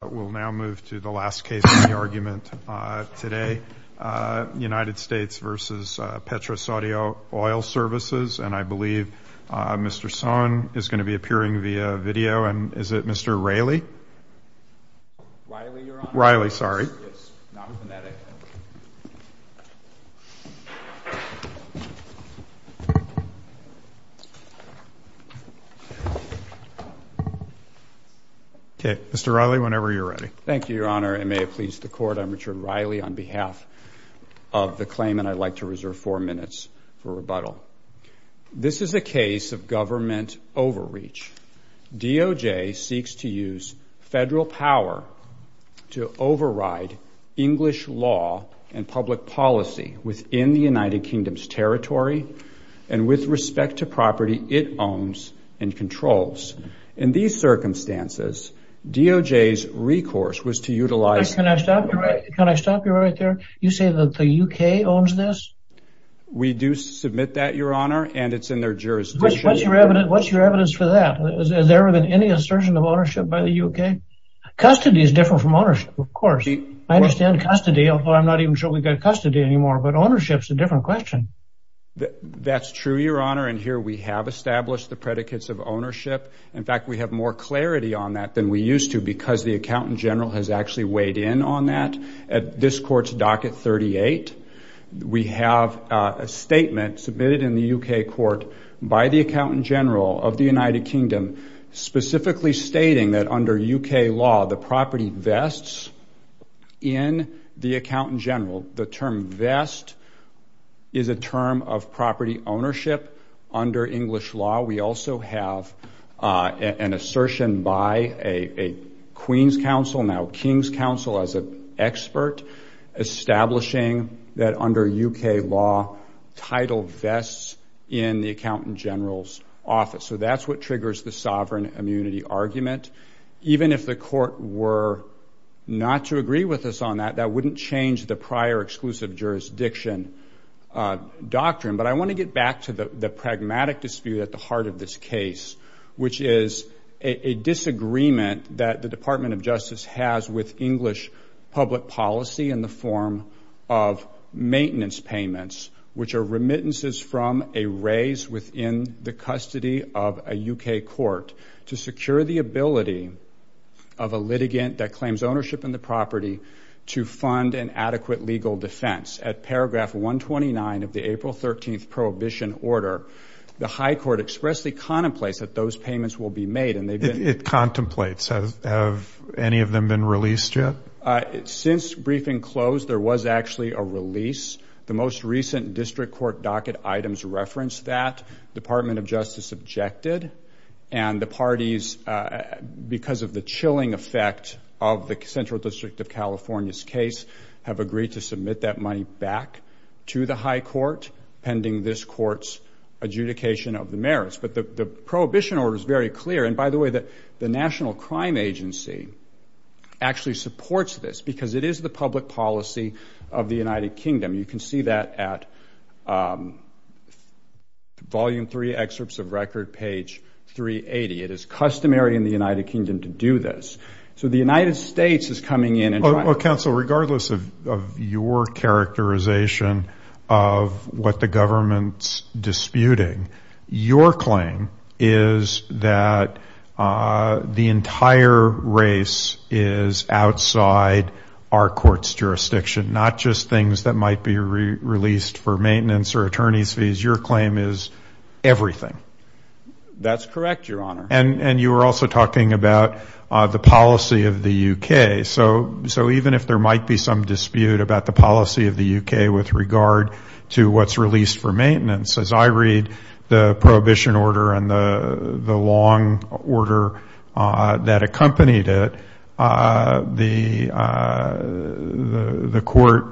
We'll now move to the last case in the argument today, United States v. PetroSaudi Oil Services, and I believe Mr. Sohn is going to be appearing via video, and is it Mr. Riley? Riley, you're on? Riley, sorry. Yes, non-phonetic. Okay. Mr. Riley, whenever you're ready. Thank you, Your Honor, and may it please the Court, I'm Richard Riley on behalf of the claimant. I'd like to reserve four minutes for rebuttal. This is a case of government overreach. DOJ seeks to use federal power to override English law and public policy within the United Kingdom's territory, and with respect to property it owns and controls. In these circumstances, DOJ's recourse was to utilize... Can I stop you right there? You say that the U.K. owns this? We do submit that, Your Honor, and it's in their jurisdiction. What's your evidence for that? Has there ever been any assertion of ownership by the U.K.? Custody is different from ownership, of course. I understand custody, although I'm not even sure we've got custody anymore, but ownership's a different question. That's true, Your Honor, and here we have established the predicates of ownership. In fact, we have more clarity on that than we used to because the accountant general has actually weighed in on that. At this court's docket 38, we have a statement submitted in the U.K. court by the accountant general of the United Kingdom specifically stating that under U.K. law, the property vests in the accountant general. The term vest is a term of property ownership under English law. We also have an assertion by a Queen's counsel, now King's counsel as an expert, establishing that under U.K. law, title vests in the accountant general's office. So that's what triggers the sovereign immunity argument. Even if the court were not to agree with us on that, that wouldn't change the prior exclusive jurisdiction doctrine. But I want to get back to the pragmatic dispute at the heart of this case, which is a disagreement that the Department of Justice has with English public policy in the form of maintenance payments, which are remittances from a raise within the custody of a U.K. court to secure the ability of a litigant that claims ownership in the property to fund an adequate legal defense. At paragraph 129 of the April 13th prohibition order, the high court expressly contemplates that those payments will be made. It contemplates. Have any of them been released yet? Since briefing closed, there was actually a release. The most recent district court docket items reference that. Department of Justice objected. And the parties, because of the chilling effect of the Central District of California's case, have agreed to submit that money back to the high court pending this court's adjudication of the merits. But the prohibition order is very clear. And, by the way, the National Crime Agency actually supports this because it is the public policy of the United Kingdom. You can see that at volume 3, excerpts of record, page 380. It is customary in the United Kingdom to do this. Well, counsel, regardless of your characterization of what the government's disputing, your claim is that the entire race is outside our court's jurisdiction, not just things that might be released for maintenance or attorney's fees. Your claim is everything. That's correct, Your Honor. And you were also talking about the policy of the U.K. So even if there might be some dispute about the policy of the U.K. with regard to what's released for maintenance, as I read the prohibition order and the long order that accompanied it, the court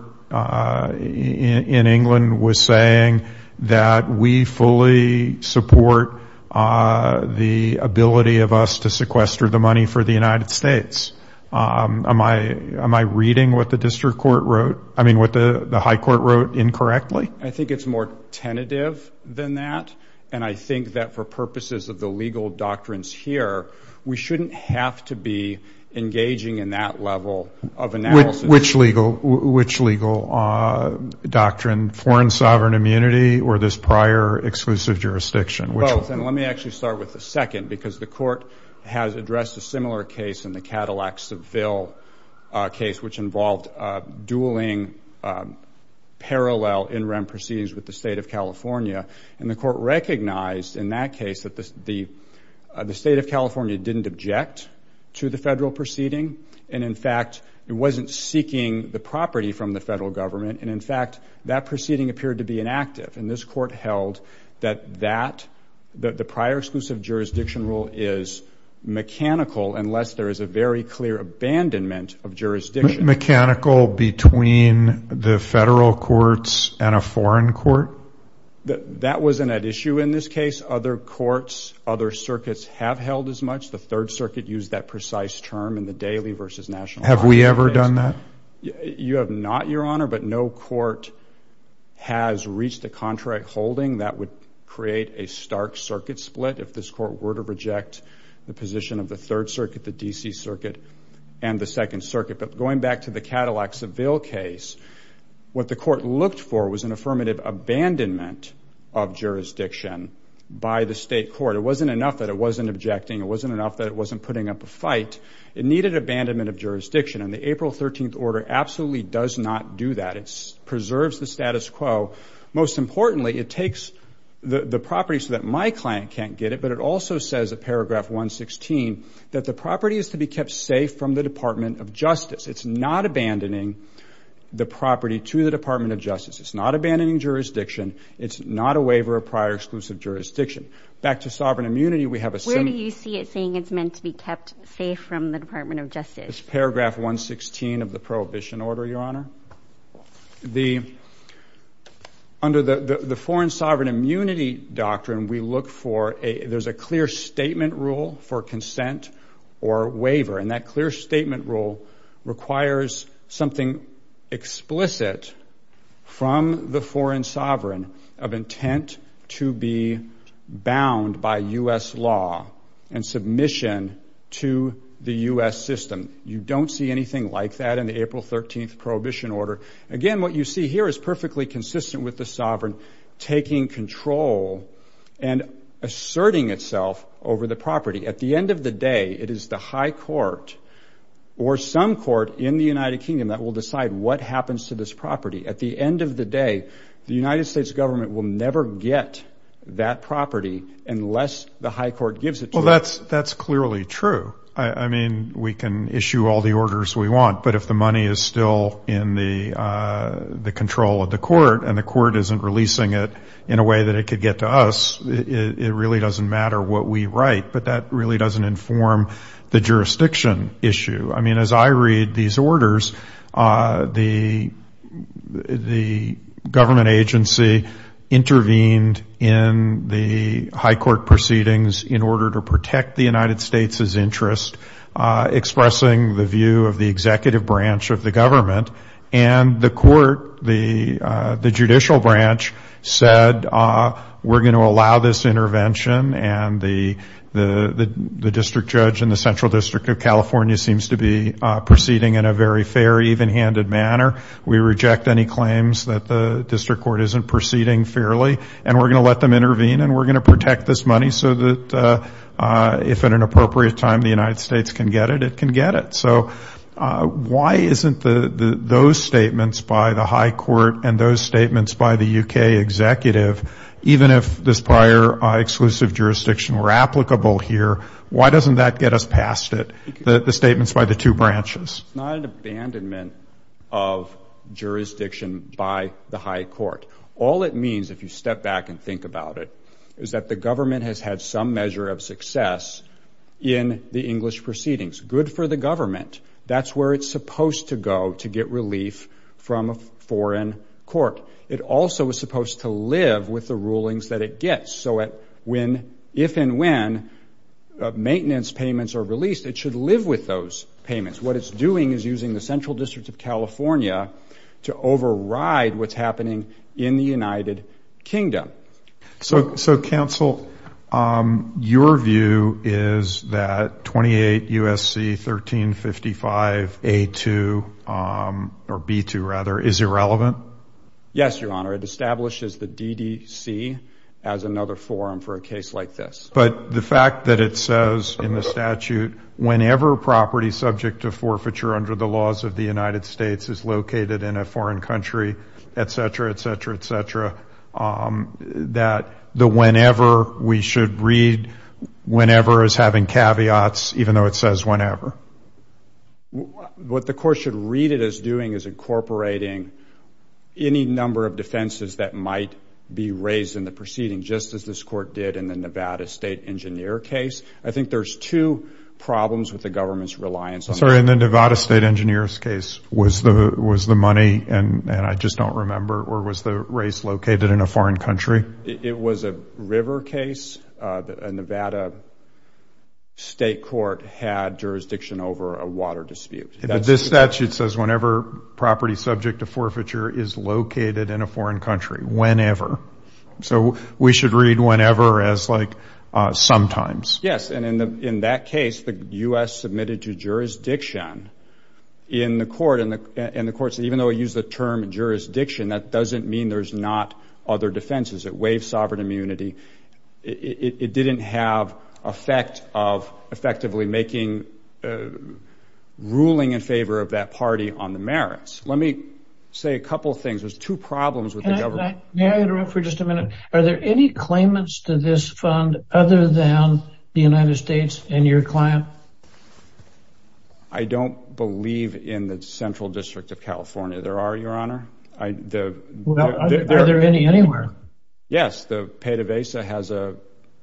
in England was saying that we fully support the ability of us to sequester the money for the United States. Am I reading what the district court wrote, I mean what the high court wrote incorrectly? I think it's more tentative than that. And I think that for purposes of the legal doctrines here, we shouldn't have to be engaging in that level of analysis. Which legal doctrine, foreign sovereign immunity or this prior exclusive jurisdiction? Both. And let me actually start with the second, because the court has addressed a similar case in the Cadillac-Seville case, which involved dueling parallel in-rem proceedings with the state of California. And the court recognized in that case that the state of California didn't object to the federal proceeding. And in fact, it wasn't seeking the property from the federal government. And in fact, that proceeding appeared to be inactive. And this court held that that, that the prior exclusive jurisdiction rule is mechanical, unless there is a very clear abandonment of jurisdiction. Mechanical between the federal courts and a foreign court? That wasn't at issue in this case. Other courts, other circuits have held as much. The Third Circuit used that precise term in the daily versus national. Have we ever done that? You have not, Your Honor. But no court has reached a contract holding that would create a stark circuit split if this court were to reject the position of the Third Circuit, the D.C. Circuit, and the Second Circuit. But going back to the Cadillac-Seville case, what the court looked for was an affirmative abandonment of jurisdiction by the state court. It wasn't enough that it wasn't objecting. It wasn't enough that it wasn't putting up a fight. It needed abandonment of jurisdiction. And the April 13th order absolutely does not do that. It preserves the status quo. Most importantly, it takes the property so that my client can't get it, but it also says in paragraph 116 that the property is to be kept safe from the Department of Justice. It's not abandoning the property to the Department of Justice. It's not abandoning jurisdiction. It's not a waiver of prior exclusive jurisdiction. Back to sovereign immunity, we have a similar. Where do you see it saying it's meant to be kept safe from the Department of Justice? It's paragraph 116 of the prohibition order, Your Honor. Under the foreign sovereign immunity doctrine, we look for a clear statement rule for consent or waiver. And that clear statement rule requires something explicit from the foreign sovereign of intent to be bound by U.S. law and submission to the U.S. system. You don't see anything like that in the April 13th prohibition order. Again, what you see here is perfectly consistent with the sovereign taking control and asserting itself over the property. At the end of the day, it is the high court or some court in the United Kingdom that will decide what happens to this property. At the end of the day, the United States government will never get that property unless the high court gives it to them. Well, that's clearly true. I mean, we can issue all the orders we want, but if the money is still in the control of the court and the court isn't releasing it in a way that it could get to us, it really doesn't matter what we write. But that really doesn't inform the jurisdiction issue. I mean, as I read these orders, the government agency intervened in the high court proceedings in order to protect the United States' interest, expressing the view of the executive branch of the government. And the court, the judicial branch, said we're going to allow this intervention, and the district judge in the Central District of California seems to be proceeding in a very fair, even-handed manner. We reject any claims that the district court isn't proceeding fairly, and we're going to let them intervene, and we're going to protect this money so that if at an appropriate time the United States can get it, it can get it. So why isn't those statements by the high court and those statements by the U.K. executive, even if this prior exclusive jurisdiction were applicable here, why doesn't that get us past it, the statements by the two branches? It's not an abandonment of jurisdiction by the high court. All it means, if you step back and think about it, is that the government has had some measure of success in the English proceedings. Good for the government. That's where it's supposed to go to get relief from a foreign court. It also is supposed to live with the rulings that it gets. So if and when maintenance payments are released, it should live with those payments. What it's doing is using the Central District of California to override what's happening in the United Kingdom. So, counsel, your view is that 28 U.S.C. 1355A2, or B2 rather, is irrelevant? Yes, Your Honor. It establishes the DDC as another forum for a case like this. But the fact that it says in the statute, whenever property subject to forfeiture under the laws of the United States is located in a foreign country, et cetera, et cetera, et cetera, that the whenever we should read whenever is having caveats, even though it says whenever. What the court should read it as doing is incorporating any number of defenses that might be raised in the proceeding, just as this court did in the Nevada State Engineer case. I think there's two problems with the government's reliance on that. Sorry, in the Nevada State Engineer's case, was the money, and I just don't remember, or was the race located in a foreign country? It was a river case. A Nevada state court had jurisdiction over a water dispute. This statute says whenever property subject to forfeiture is located in a foreign country, whenever. So we should read whenever as like sometimes. Yes, and in that case, the U.S. submitted to jurisdiction in the court, and the court said even though it used the term jurisdiction, that doesn't mean there's not other defenses. It waived sovereign immunity. It didn't have effect of effectively making ruling in favor of that party on the merits. Let me say a couple things. There's two problems with the government. May I interrupt for just a minute? Are there any claimants to this fund other than the United States and your client? I don't believe in the Central District of California. There are, Your Honor. Are there any anywhere? Yes, the PDVSA has a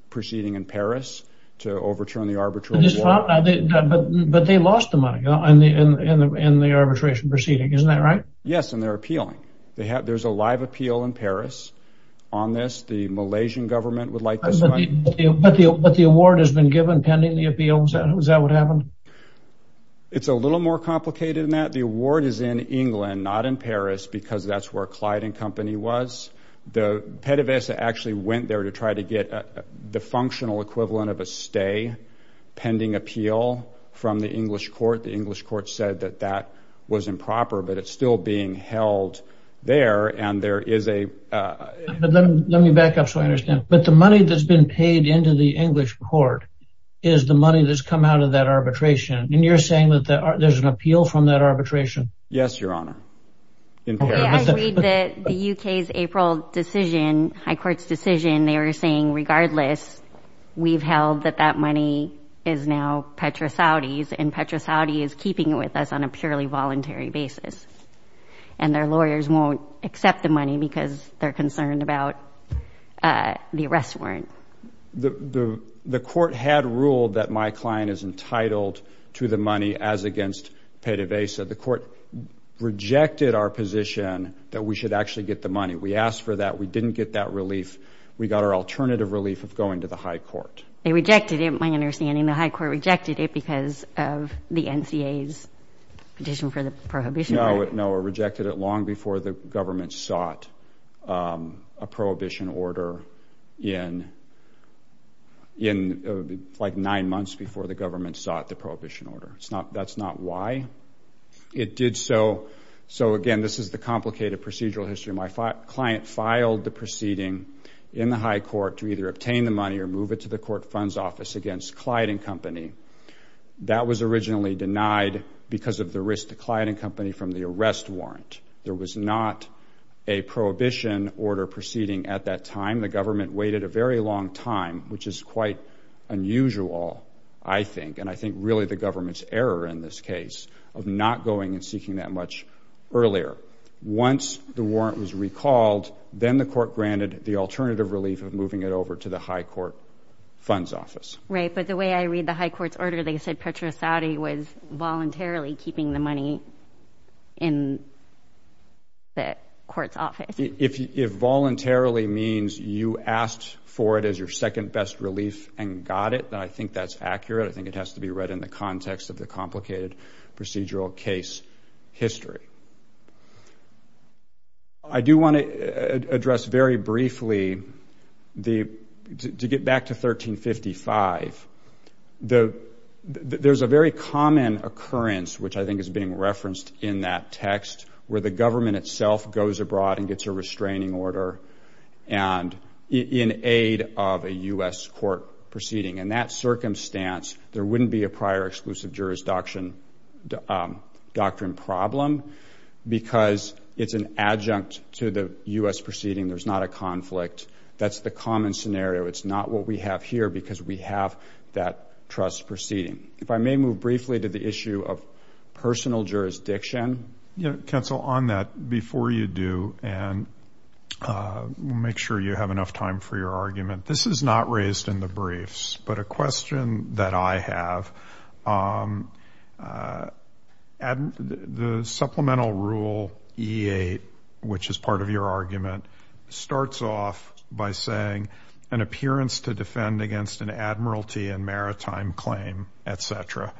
proceeding in Paris to overturn the arbitration law. But they lost the money in the arbitration proceeding. Isn't that right? Yes, and they're appealing. There's a live appeal in Paris on this. The Malaysian government would like this money. But the award has been given pending the appeal. Is that what happened? It's a little more complicated than that. The award is in England, not in Paris, because that's where Clyde and Company was. The PDVSA actually went there to try to get the functional equivalent of a stay pending appeal from the English court. The English court said that that was improper, but it's still being held there. Let me back up so I understand. But the money that's been paid into the English court is the money that's come out of that arbitration. And you're saying that there's an appeal from that arbitration? Yes, Your Honor. I read that the U.K.'s April decision, High Court's decision, they were saying, regardless, we've held that that money is now Petra Saudi's. And Petra Saudi is keeping it with us on a purely voluntary basis. And their lawyers won't accept the money because they're concerned about the arrest warrant. The court had ruled that my client is entitled to the money as against PDVSA. The court rejected our position that we should actually get the money. We asked for that. We didn't get that relief. We got our alternative relief of going to the High Court. They rejected it, my understanding. The High Court rejected it because of the NCA's petition for the prohibition order. No, it rejected it long before the government sought a prohibition order in, like, nine months before the government sought the prohibition order. That's not why it did so. So, again, this is the complicated procedural history. My client filed the proceeding in the High Court to either obtain the money or move it to the court funds office against Clyde & Company. That was originally denied because of the risk to Clyde & Company from the arrest warrant. There was not a prohibition order proceeding at that time. The government waited a very long time, which is quite unusual, I think, and I think really the government's error in this case of not going and seeking that much earlier. Once the warrant was recalled, then the court granted the alternative relief of moving it over to the High Court funds office. Right, but the way I read the High Court's order, they said Petra Saudi was voluntarily keeping the money in the court's office. If voluntarily means you asked for it as your second best relief and got it, then I think that's accurate. I think it has to be read in the context of the complicated procedural case history. I do want to address very briefly, to get back to 1355, there's a very common occurrence, which I think is being referenced in that text, where the government itself goes abroad and gets a restraining order in aid of a U.S. court proceeding. In that circumstance, there wouldn't be a prior exclusive jurisdiction doctrine problem because it's an adjunct to the U.S. proceeding. There's not a conflict. That's the common scenario. It's not what we have here because we have that trust proceeding. If I may move briefly to the issue of personal jurisdiction. Yeah, counsel, on that, before you do, and we'll make sure you have enough time for your argument, this is not raised in the briefs, but a question that I have, the supplemental rule E8, which is part of your argument, starts off by saying an appearance to defend against an admiralty and maritime claim, et cetera.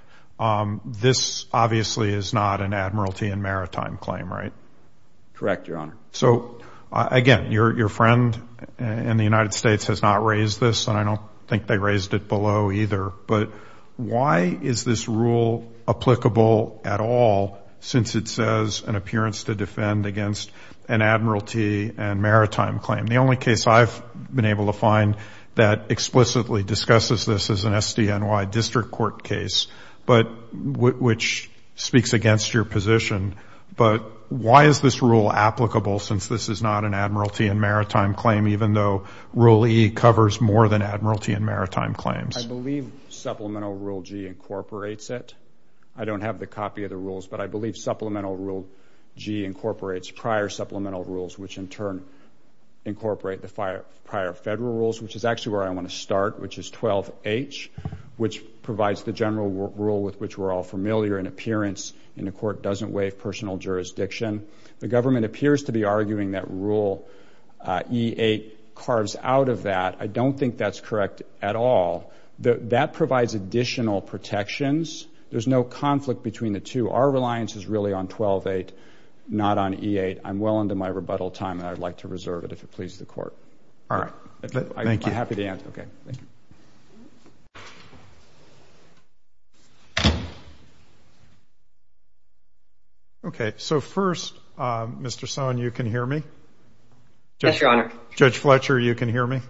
This obviously is not an admiralty and maritime claim, right? Correct, Your Honor. So, again, your friend in the United States has not raised this, and I don't think they raised it below either, but why is this rule applicable at all since it says an appearance to defend against an admiralty and maritime claim? The only case I've been able to find that explicitly discusses this is an SDNY district court case, which speaks against your position. But why is this rule applicable since this is not an admiralty and maritime claim, even though Rule E covers more than admiralty and maritime claims? I believe Supplemental Rule G incorporates it. I don't have the copy of the rules, but I believe Supplemental Rule G incorporates prior supplemental rules, which in turn incorporate the prior federal rules, which is actually where I want to start, which is 12H, which provides the general rule with which we're all familiar. An appearance in a court doesn't waive personal jurisdiction. The government appears to be arguing that Rule E8 carves out of that. I don't think that's correct at all. That provides additional protections. There's no conflict between the two. Our reliance is really on 12A, not on E8. I'm well into my rebuttal time, and I'd like to reserve it if it pleases the Court. All right. Thank you. I'm happy to answer. Okay. Thank you. So first, Mr. Sohn, you can hear me? Yes, Your Honor. Judge Fletcher, you can hear me?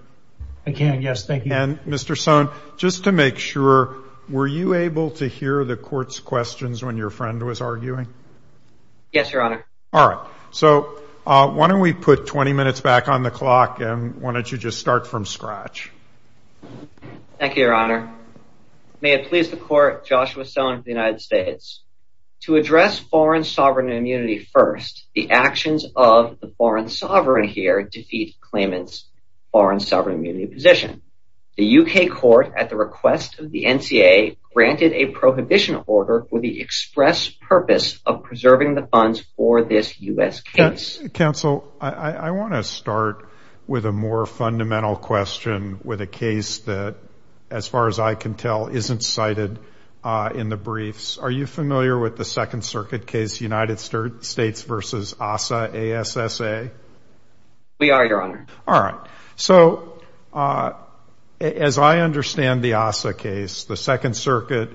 I can, yes. Thank you. And Mr. Sohn, just to make sure, were you able to hear the Court's questions when your friend was arguing? Yes, Your Honor. All right. So why don't we put 20 minutes back on the clock, and why don't you just start from scratch? Thank you, Your Honor. May it please the Court, Joshua Sohn of the United States. To address foreign sovereign immunity first, the actions of the foreign sovereign here defeat Clayman's foreign sovereign immunity position. The U.K. Court, at the request of the NCA, granted a prohibition order with the express purpose of preserving the funds for this U.S. case. Counsel, I want to start with a more fundamental question with a case that, as far as I can tell, isn't cited in the briefs. Are you familiar with the Second Circuit case, United States v. ASSA? We are, Your Honor. All right. So as I understand the ASSA case, the Second Circuit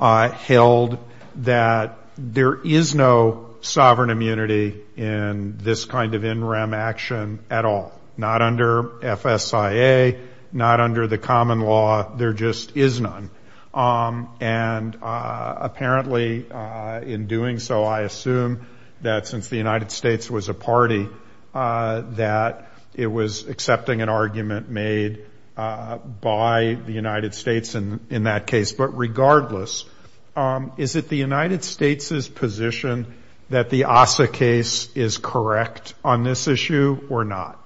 held that there is no sovereign immunity in this kind of in rem action at all. Not under FSIA, not under the common law, there just is none. And apparently, in doing so, I assume that since the United States was a party, that it was accepting an argument made by the United States in that case. But regardless, is it the United States' position that the ASSA case is correct on this issue or not?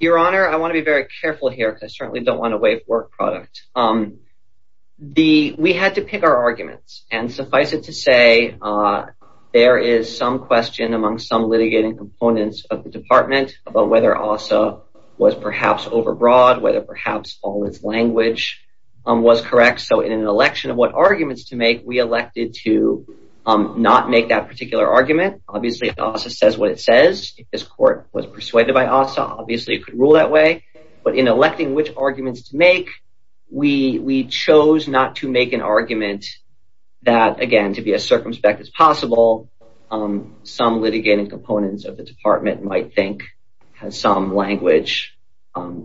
Your Honor, I want to be very careful here because I certainly don't want to waive work product. We had to pick our arguments. And suffice it to say, there is some question among some litigating components of the Department about whether ASSA was perhaps overbroad, whether perhaps all its language was correct. So in an election of what arguments to make, we elected to not make that particular argument. Obviously, ASSA says what it says. If this court was persuaded by ASSA, obviously it could rule that way. But in electing which arguments to make, we chose not to make an argument that, again, to be as circumspect as possible, some litigating components of the Department might think has some language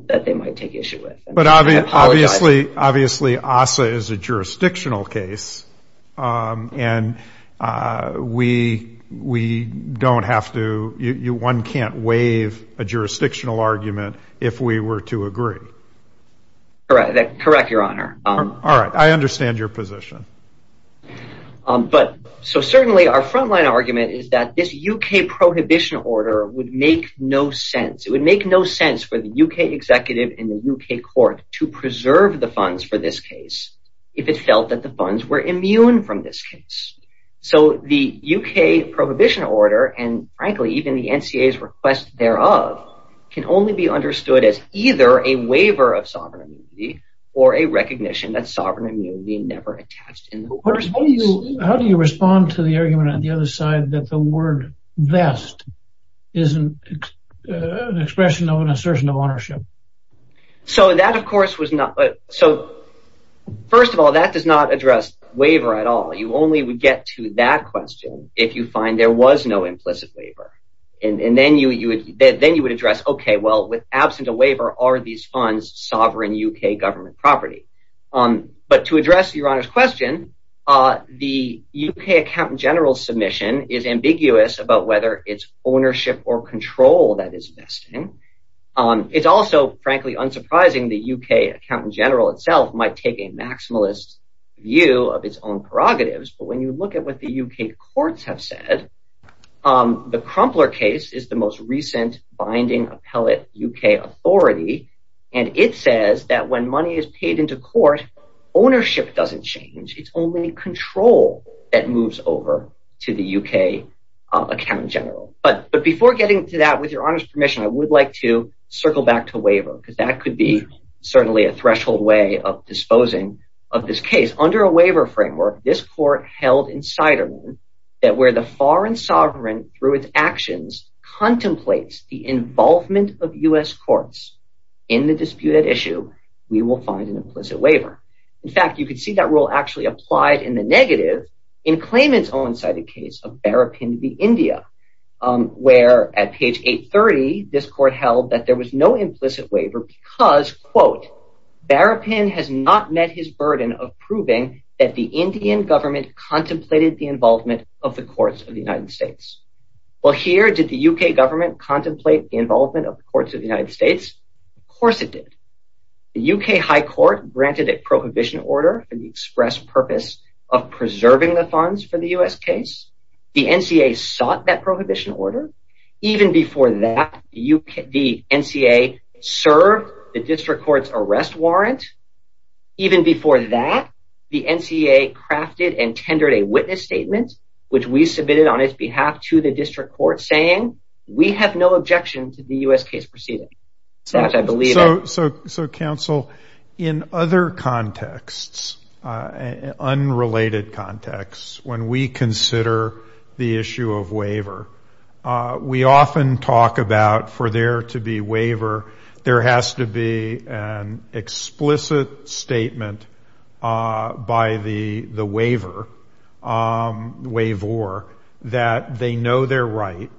that they might take issue with. But obviously, ASSA is a jurisdictional case, and one can't waive a jurisdictional argument if we were to agree. Correct, Your Honor. All right. I understand your position. So certainly our front-line argument is that this U.K. prohibition order would make no sense. It would make no sense for the U.K. executive and the U.K. court to preserve the funds for this case if it felt that the funds were immune from this case. So the U.K. prohibition order, and frankly even the NCA's request thereof, can only be understood as either a waiver of sovereign immunity or a recognition that sovereign immunity never attached in the first place. How do you respond to the argument on the other side that the word vest is an expression of an assertion of ownership? So that, of course, was not – so first of all, that does not address waiver at all. You only would get to that question if you find there was no implicit waiver. And then you would address, okay, well, absent a waiver, are these funds sovereign U.K. government property? But to address Your Honor's question, the U.K. accountant general's submission is ambiguous about whether it's ownership or control that is vesting. It's also, frankly, unsurprising the U.K. accountant general itself might take a maximalist view of its own prerogatives. But when you look at what the U.K. courts have said, the Crumpler case is the most recent binding appellate U.K. authority. And it says that when money is paid into court, ownership doesn't change. It's only control that moves over to the U.K. accountant general. But before getting to that, with Your Honor's permission, I would like to circle back to waiver because that could be certainly a threshold way of disposing of this case. Under a waiver framework, this court held in Siderman that where the foreign sovereign through its actions contemplates the involvement of U.S. courts in the disputed issue, we will find an implicit waiver. In fact, you could see that rule actually applied in the negative in Clayman's own cited case of Barapin v. India, where at page 830, this court held that there was no implicit waiver because, quote, Barapin has not met his burden of proving that the Indian government contemplated the involvement of the courts of the United States. Well, here did the U.K. government contemplate the involvement of the courts of the United States? Of course it did. The U.K. High Court granted a prohibition order for the express purpose of preserving the funds for the U.S. case. The N.C.A. sought that prohibition order. Even before that, the N.C.A. served the district court's arrest warrant. Even before that, the N.C.A. crafted and tendered a witness statement, which we submitted on its behalf to the district court, saying we have no objection to the U.S. case proceeding. So, counsel, in other contexts, unrelated contexts, when we consider the issue of waiver, we often talk about for there to be waiver, there has to be an explicit statement by the waiver, waivor, that they know they're right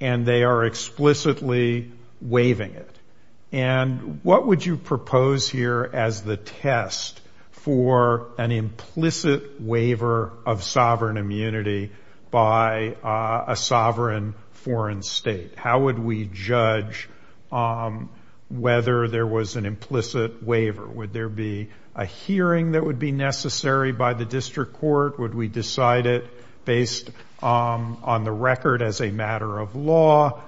and they are explicitly waiving it. And what would you propose here as the test for an implicit waiver of sovereign immunity by a sovereign foreign state? How would we judge whether there was an implicit waiver? Would there be a hearing that would be necessary by the district court? Would we decide it based on the record as a matter of law?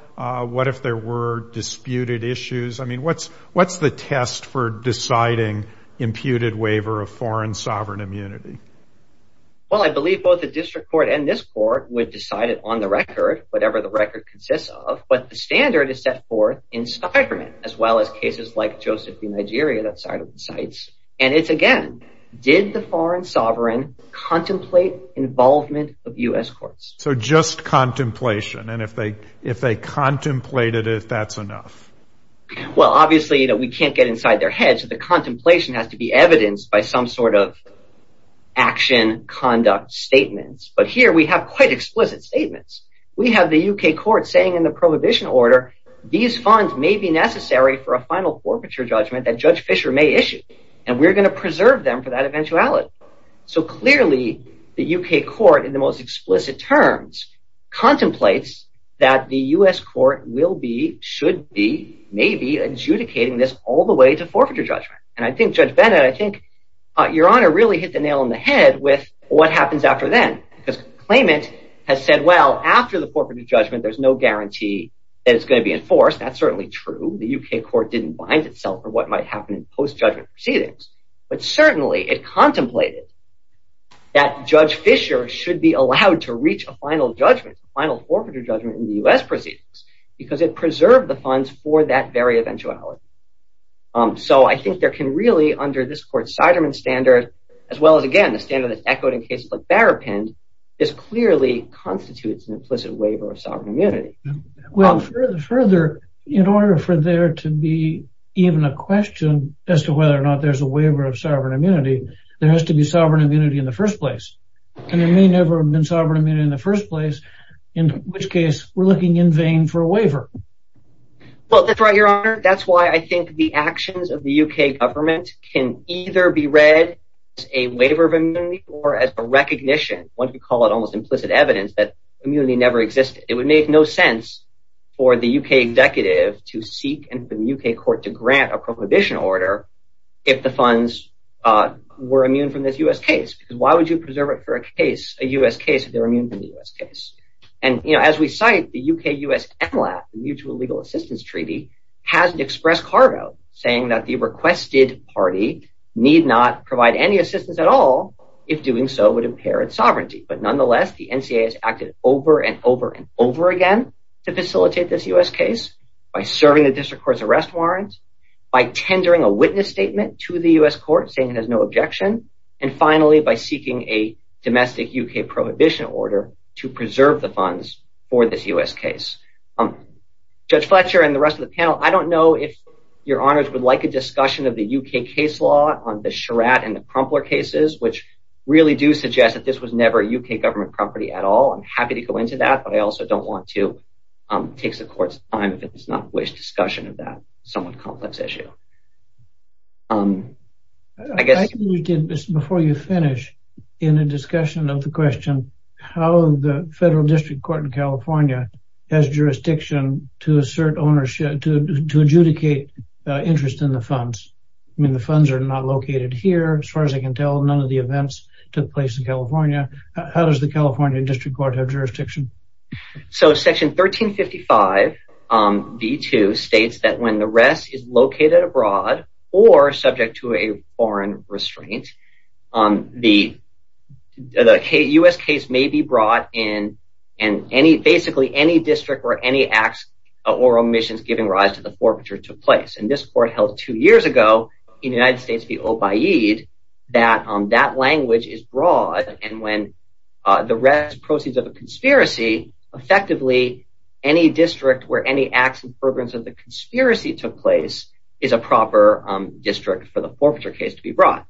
What if there were disputed issues? I mean, what's the test for deciding imputed waiver of foreign sovereign immunity? Well, I believe both the district court and this court would decide it on the record, whatever the record consists of. But the standard is set forth in Stikerman, as well as cases like Joseph v. Nigeria, that side of the sites. And it's, again, did the foreign sovereign contemplate involvement of U.S. courts? So just contemplation, and if they contemplated it, that's enough? Well, obviously, you know, we can't get inside their heads. The contemplation has to be evidenced by some sort of action conduct statements. But here we have quite explicit statements. We have the U.K. court saying in the prohibition order, these funds may be necessary for a final forfeiture judgment that Judge Fisher may issue. And we're going to preserve them for that eventuality. So clearly, the U.K. court, in the most explicit terms, contemplates that the U.S. court will be, should be, may be adjudicating this all the way to forfeiture judgment. And I think Judge Bennett, I think Your Honor really hit the nail on the head with what happens after then. Because claimant has said, well, after the forfeiture judgment, there's no guarantee that it's going to be enforced. That's certainly true. The U.K. court didn't bind itself for what might happen in post-judgment proceedings. But certainly it contemplated that Judge Fisher should be allowed to reach a final judgment, a final forfeiture judgment in the U.S. proceedings. Because it preserved the funds for that very eventuality. So I think there can really, under this court's Ciderman standard, as well as, again, the standard that's echoed in cases like Barapin, this clearly constitutes an implicit waiver of sovereign immunity. Well, further, in order for there to be even a question as to whether or not there's a waiver of sovereign immunity, there has to be sovereign immunity in the first place. And there may never have been sovereign immunity in the first place, in which case we're looking in vain for a waiver. Well, that's right, Your Honor. That's why I think the actions of the U.K. government can either be read as a waiver of immunity or as a recognition. One could call it almost implicit evidence that immunity never existed. It would make no sense for the U.K. executive to seek and for the U.K. court to grant a prohibition order if the funds were immune from this U.S. case. Because why would you preserve it for a case, a U.S. case, if they're immune from the U.S. case? And, you know, as we cite, the U.K.-U.S. MLAP, the Mutual Legal Assistance Treaty, has expressed cargo, saying that the requested party need not provide any assistance at all if doing so would impair its sovereignty. But nonetheless, the NCAA has acted over and over and over again to facilitate this U.S. case by serving the district court's arrest warrant, by tendering a witness statement to the U.S. court saying it has no objection, and finally by seeking a domestic U.K. prohibition order to preserve the funds for this U.S. case. Judge Fletcher and the rest of the panel, I don't know if Your Honors would like a discussion of the U.K. case law on the Sherratt and the Crumpler cases, which really do suggest that this was never a U.K. government property at all. I'm happy to go into that, but I also don't want to take the Court's time if it does not wish discussion of that somewhat complex issue. I guess... I think you did, before you finish, in a discussion of the question how the federal district court in California has jurisdiction to assert ownership, to adjudicate interest in the funds. I mean, the funds are not located here, as far as I can tell, none of the events took place in California. How does the California district court have jurisdiction? So, Section 1355b2 states that when the arrest is located abroad or subject to a foreign restraint, the U.S. case may be brought in and basically any district or any acts or omissions giving rise to the forfeiture took place. And this Court held two years ago in the United States v. Obaid that that language is broad, and when the arrest proceeds of a conspiracy, effectively, any district where any acts in fervor of the conspiracy took place is a proper district for the forfeiture case to be brought.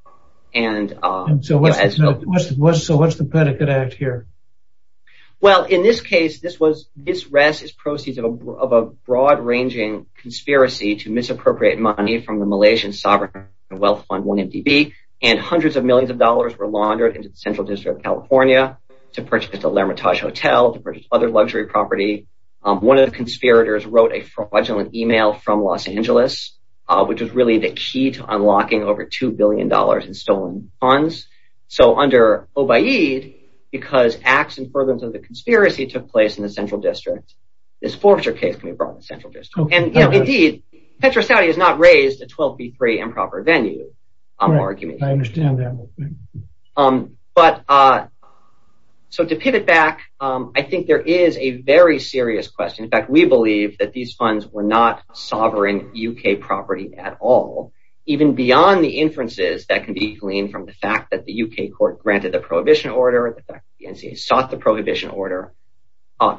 So, what's the petticoat act here? Well, in this case, this arrest is proceeds of a broad-ranging conspiracy to misappropriate money from the Malaysian sovereign wealth fund, 1MDB, and hundreds of millions of dollars were laundered into the Central District of California to purchase the L'Hermitage Hotel, to purchase other luxury property. One of the conspirators wrote a fraudulent email from Los Angeles, which was really the key to unlocking over $2 billion in stolen funds. So, under Obaid, because acts in fervor of the conspiracy took place in the Central District, this forfeiture case can be brought in the Central District. And, you know, indeed, Petro-Saudi has not raised a 12B3 improper venue, I'm arguing. I understand that. But, so to pivot back, I think there is a very serious question. In fact, we believe that these funds were not sovereign U.K. property at all, even beyond the inferences that can be gleaned from the fact that the U.K. court granted the prohibition order, the fact that the NCA sought the prohibition order.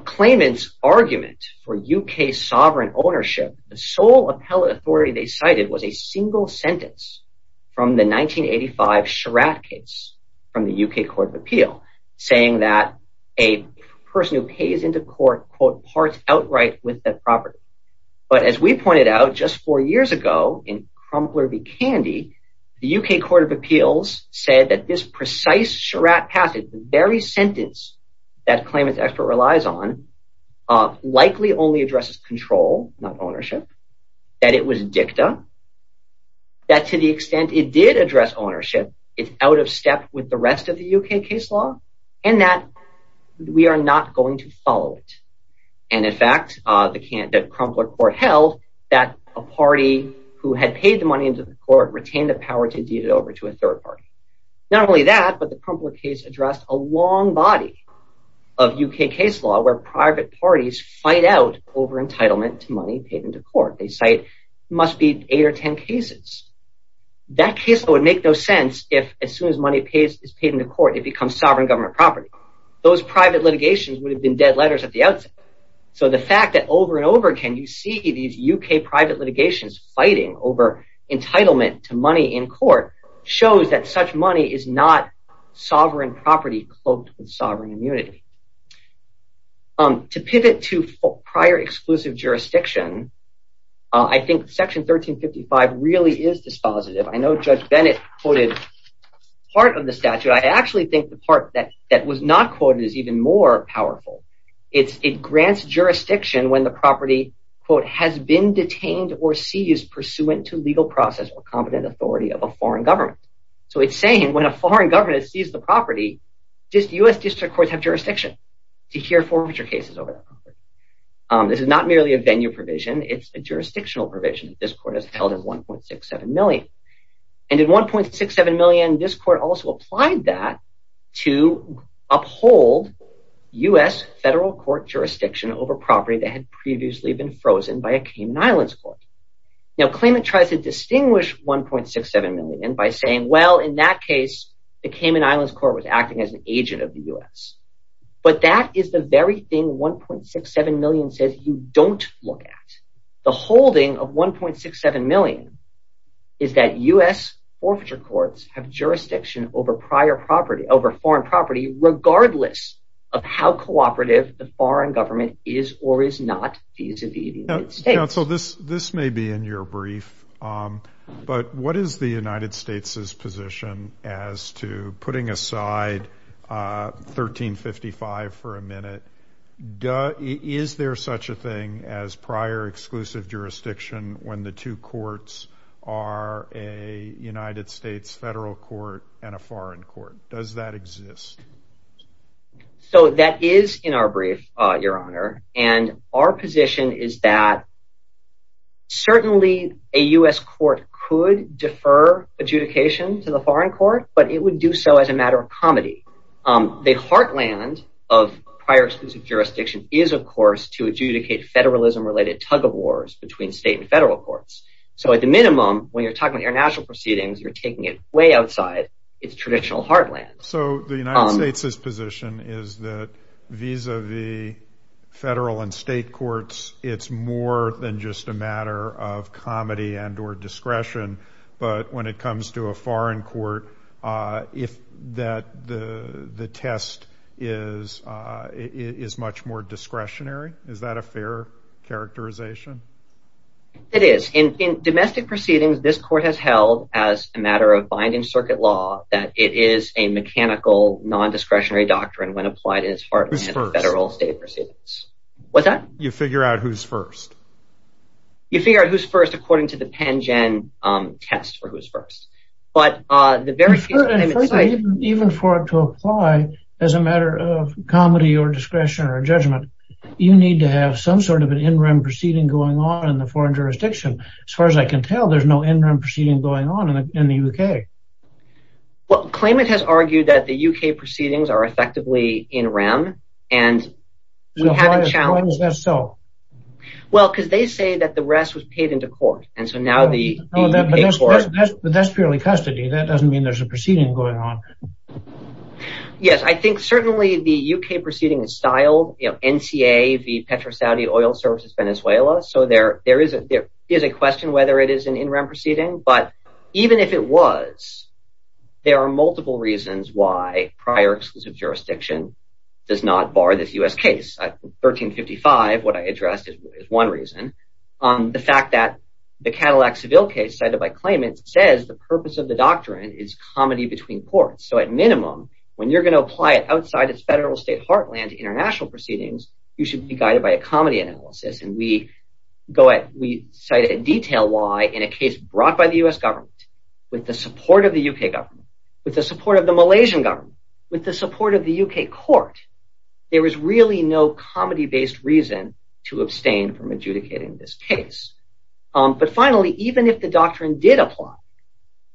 Claimant's argument for U.K. sovereign ownership, the sole appellate authority they cited was a single sentence from the 1985 Sherratt case from the U.K. Court of Appeal saying that a person who pays into court, quote, parts outright with that property. But as we pointed out just four years ago in Crumpler v. Candy, the U.K. Court of Appeals said that this precise Sherratt passage, the very sentence that claimant's expert relies on, likely only addresses control, not ownership. That it was dicta. That to the extent it did address ownership, it's out of step with the rest of the U.K. case law. And that we are not going to follow it. And in fact, the Crumpler court held that a party who had paid the money into the court retained the power to deed it over to a third party. Not only that, but the Crumpler case addressed a long body of U.K. case law where private parties fight out over entitlement to money paid into court. They cite, must be eight or ten cases. That case would make no sense if, as soon as money is paid into court, it becomes sovereign government property. Those private litigations would have been dead letters at the outset. So the fact that over and over again you see these U.K. private litigations fighting over entitlement to money in court shows that such money is not sovereign property cloaked with sovereign immunity. To pivot to prior exclusive jurisdiction, I think section 1355 really is dispositive. I know Judge Bennett quoted part of the statute. I actually think the part that was not quoted is even more powerful. It grants jurisdiction when the property, quote, has been detained or seized pursuant to legal process or competent authority of a foreign government. So it's saying when a foreign government has seized the property, just U.S. district courts have jurisdiction to hear forfeiture cases over that property. This is not merely a venue provision. It's a jurisdictional provision. This court has held it 1.67 million. And in 1.67 million, this court also applied that to uphold U.S. federal court jurisdiction over property that had previously been frozen by a Cayman Islands court. Now, claimant tries to distinguish 1.67 million by saying, well, in that case, the Cayman Islands court was acting as an agent of the U.S. But that is the very thing 1.67 million says you don't look at. The holding of 1.67 million is that U.S. forfeiture courts have jurisdiction over prior property, over foreign property, regardless of how cooperative the foreign government is or is not vis-a-vis the United States. Counsel, this may be in your brief, but what is the United States' position as to putting aside 1355 for a minute? Is there such a thing as prior exclusive jurisdiction when the two courts are a United States federal court and a foreign court? Does that exist? So that is in our brief, Your Honor. And our position is that certainly a U.S. court could defer adjudication to the foreign court, but it would do so as a matter of comedy. The heartland of prior exclusive jurisdiction is, of course, to adjudicate federalism-related tug-of-wars between state and federal courts. So at the minimum, when you're talking about international proceedings, you're taking it way outside its traditional heartland. So the United States' position is that vis-a-vis federal and state courts, it's more than just a matter of comedy and or discretion, but when it comes to a foreign court, that the test is much more discretionary? Is that a fair characterization? It is. In domestic proceedings, this court has held as a matter of binding circuit law that it is a mechanical, non-discretionary doctrine when applied as part of federal and state proceedings. Who's first? What's that? You figure out who's first. You figure out who's first according to the PENGEN test for who's first. Even for it to apply as a matter of comedy or discretion or judgment, you need to have some sort of an in-rem proceeding going on in the foreign jurisdiction. As far as I can tell, there's no in-rem proceeding going on in the U.K. Well, claimant has argued that the U.K. proceedings are effectively in-rem. Why is that so? Well, because they say that the rest was paid into court. But that's purely custody. That doesn't mean there's a proceeding going on. Yes, I think certainly the U.K. proceeding is styled NCA v. Petro-Saudi Oil Services, Venezuela. So there is a question whether it is an in-rem proceeding, but even if it was, there are multiple reasons why prior exclusive jurisdiction does not bar this U.S. case. 1355, what I addressed, is one reason. The fact that the Cadillac Seville case cited by claimant says the purpose of the doctrine is comedy between courts. So at minimum, when you're going to apply it outside its federal state heartland to international proceedings, you should be guided by a comedy analysis. And we cite a detail law in a case brought by the U.S. government with the support of the U.K. government, with the support of the Malaysian government, with the support of the U.K. court. There is really no comedy-based reason to abstain from adjudicating this case. But finally, even if the doctrine did apply,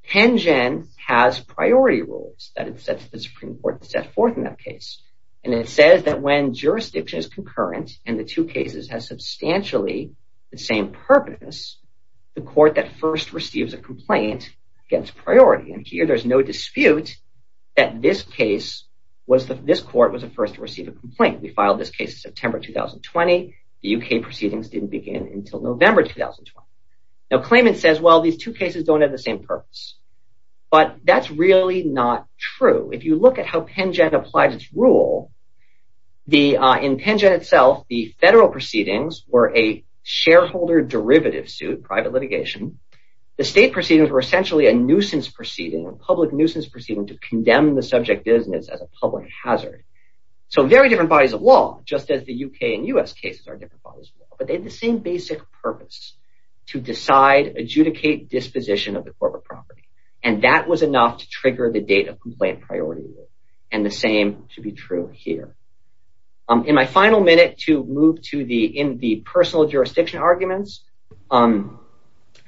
Tengen has priority rules that the Supreme Court set forth in that case. And it says that when jurisdiction is concurrent and the two cases have substantially the same purpose, the court that first receives a complaint gets priority. And here, there's no dispute that this case, this court was the first to receive a complaint. We filed this case in September 2020. The U.K. proceedings didn't begin until November 2020. Now, claimant says, well, these two cases don't have the same purpose. But that's really not true. If you look at how Tengen applies its rule, in Tengen itself, the federal proceedings were a shareholder derivative suit, private litigation. The state proceedings were essentially a nuisance proceeding, a public nuisance proceeding to condemn the subject business as a public hazard. So very different bodies of law, just as the U.K. and U.S. cases are different bodies of law. But they have the same basic purpose, to decide, adjudicate disposition of the corporate property. And that was enough to trigger the date of complaint priority rule. And the same should be true here. In my final minute to move to the personal jurisdiction arguments,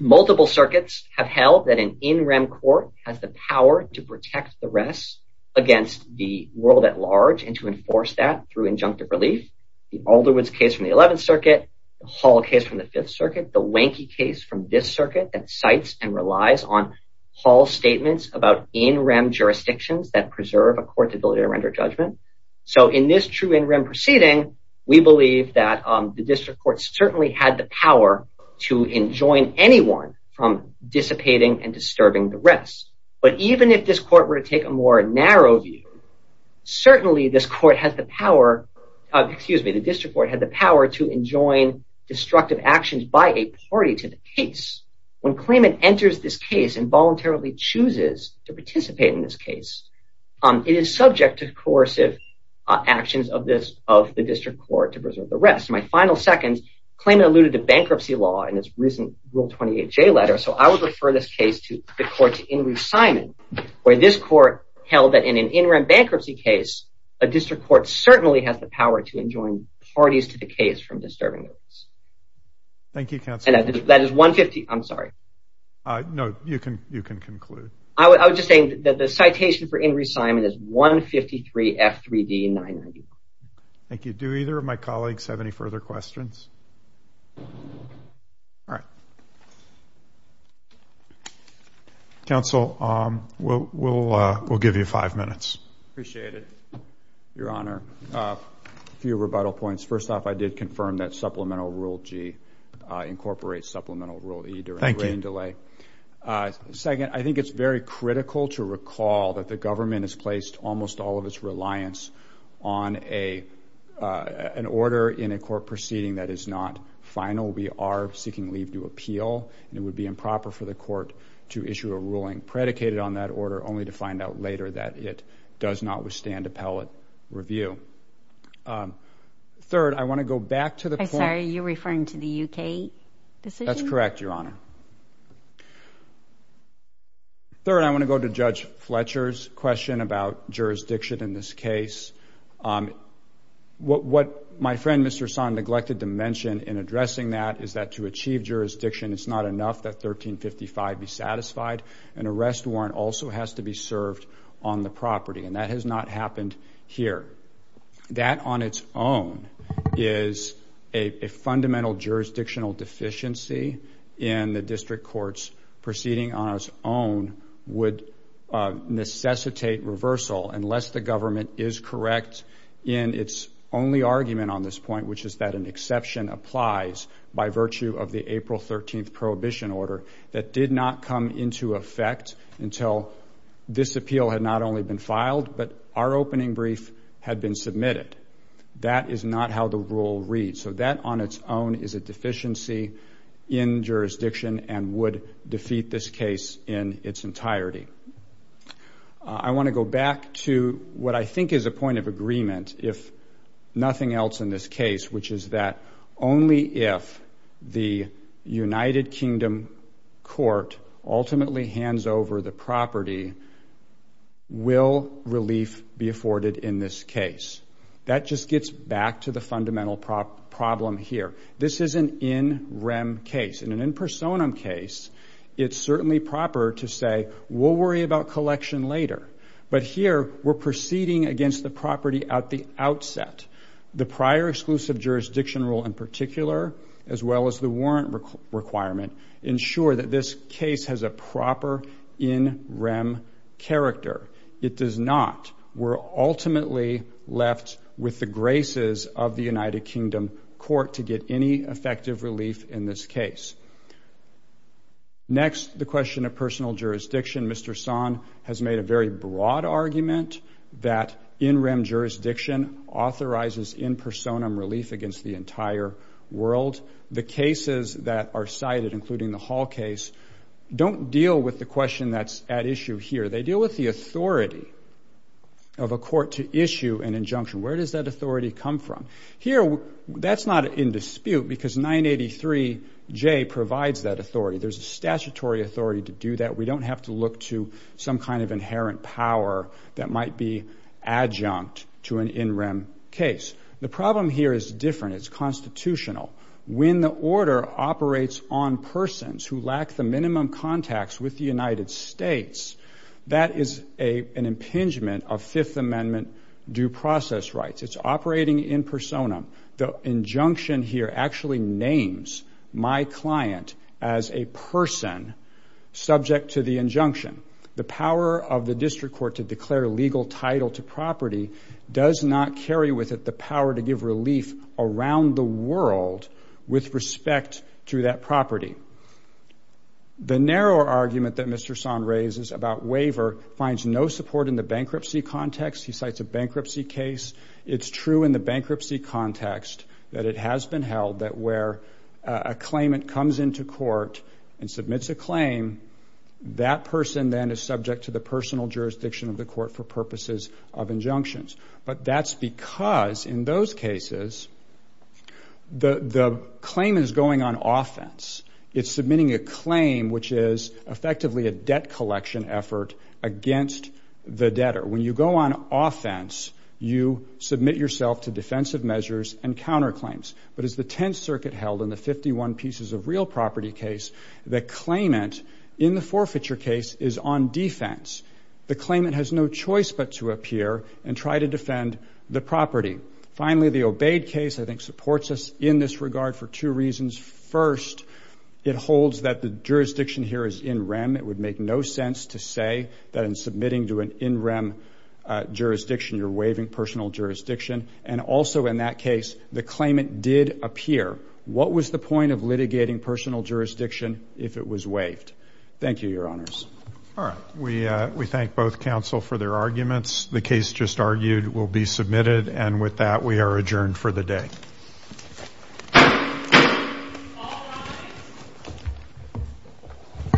multiple circuits have held that an in-rem court has the power to protect the rest against the world at large and to enforce that through injunctive relief. The Alderwood case from the 11th Circuit, the Hall case from the 5th Circuit, the Wanky case from this circuit that cites and relies on Hall statements about in-rem jurisdictions that preserve a court's ability to render judgment. So in this true in-rem proceeding, we believe that the district court certainly had the power to enjoin anyone from dissipating and disturbing the rest. But even if this court were to take a more narrow view, certainly this court has the power, excuse me, the district court had the power to enjoin destructive actions by a party to the case. When claimant enters this case and voluntarily chooses to participate in this case, it is subject to coercive actions of the district court to preserve the rest. In my final second, claimant alluded to bankruptcy law in its recent Rule 28J letter. So I would refer this case to the court to Inglis Simon, where this court held that in an in-rem bankruptcy case, a district court certainly has the power to enjoin parties to the case from disturbing the rest. Thank you, counsel. And that is 150, I'm sorry. No, you can conclude. I was just saying that the citation for Inglis Simon is 153 F3D 990. Thank you. Do either of my colleagues have any further questions? All right. Counsel, we'll give you five minutes. Appreciate it, Your Honor. A few rebuttal points. First off, I did confirm that Supplemental Rule G incorporates Supplemental Rule E. Thank you. Second, I think it's very critical to recall that the government has placed almost all of its reliance on an order in a court proceeding that is not final. We are seeking leave to appeal, and it would be improper for the court to issue a ruling predicated on that order, only to find out later that it does not withstand appellate review. Third, I want to go back to the point... I'm sorry, are you referring to the U.K. decision? That's correct, Your Honor. Third, I want to go to Judge Fletcher's question about jurisdiction in this case. What my friend, Mr. Son, neglected to mention in addressing that is that to achieve jurisdiction, it's not enough that 1355 be satisfied. An arrest warrant also has to be served on the property, and that has not happened here. That on its own is a fundamental jurisdictional deficiency in the district courts. Proceeding on its own would necessitate reversal, unless the government is correct in its only argument on this point, which is that an exception applies by virtue of the April 13th prohibition order that did not come into effect until this appeal had not only been filed, but our opening brief had been submitted. That is not how the rule reads. So that on its own is a deficiency in jurisdiction and would defeat this case in its entirety. I want to go back to what I think is a point of agreement, if nothing else in this case, which is that only if the United Kingdom court ultimately hands over the property will relief be afforded in this case. That just gets back to the fundamental problem here. This is an in rem case. In an in personam case, it's certainly proper to say we'll worry about collection later, but here we're proceeding against the property at the outset. The prior exclusive jurisdiction rule in particular, as well as the warrant requirement, ensure that this case has a proper in rem character. It does not. We're ultimately left with the graces of the United Kingdom court to get any effective relief in this case. Next, the question of personal jurisdiction. Mr. Son has made a very broad argument that in rem jurisdiction authorizes in personam relief against the entire world. The cases that are cited, including the Hall case, don't deal with the question that's at issue here. They deal with the authority of a court to issue an injunction. Where does that authority come from? Here, that's not in dispute because 983J provides that authority. There's a statutory authority to do that. We don't have to look to some kind of inherent power that might be adjunct to an in rem case. The problem here is different. It's constitutional. When the order operates on persons who lack the minimum contacts with the United States, that is an impingement of Fifth Amendment due process rights. It's operating in personam. The injunction here actually names my client as a person subject to the injunction. The power of the district court to declare legal title to property does not carry with it the power to give relief around the world with respect to that property. The narrower argument that Mr. Son raises about waiver finds no support in the bankruptcy context. He cites a bankruptcy case. It's true in the bankruptcy context that it has been held that where a claimant comes into court and submits a claim, that person then is subject to the personal jurisdiction of the court for purposes of injunctions. But that's because in those cases, the claim is going on offense. It's submitting a claim, which is effectively a debt collection effort against the debtor. When you go on offense, you submit yourself to defensive measures and counterclaims. But as the Tenth Circuit held in the 51 pieces of real property case, the claimant in the forfeiture case is on defense. The claimant has no choice but to appear and try to defend the property. Finally, the obeyed case, I think, supports us in this regard for two reasons. First, it holds that the jurisdiction here is in rem. It would make no sense to say that in submitting to an in rem jurisdiction, you're waiving personal jurisdiction. And also in that case, the claimant did appear. What was the point of litigating personal jurisdiction if it was waived? Thank you, Your Honors. All right. We thank both counsel for their arguments. The case just argued will be submitted. And with that, we are adjourned for the day. All rise.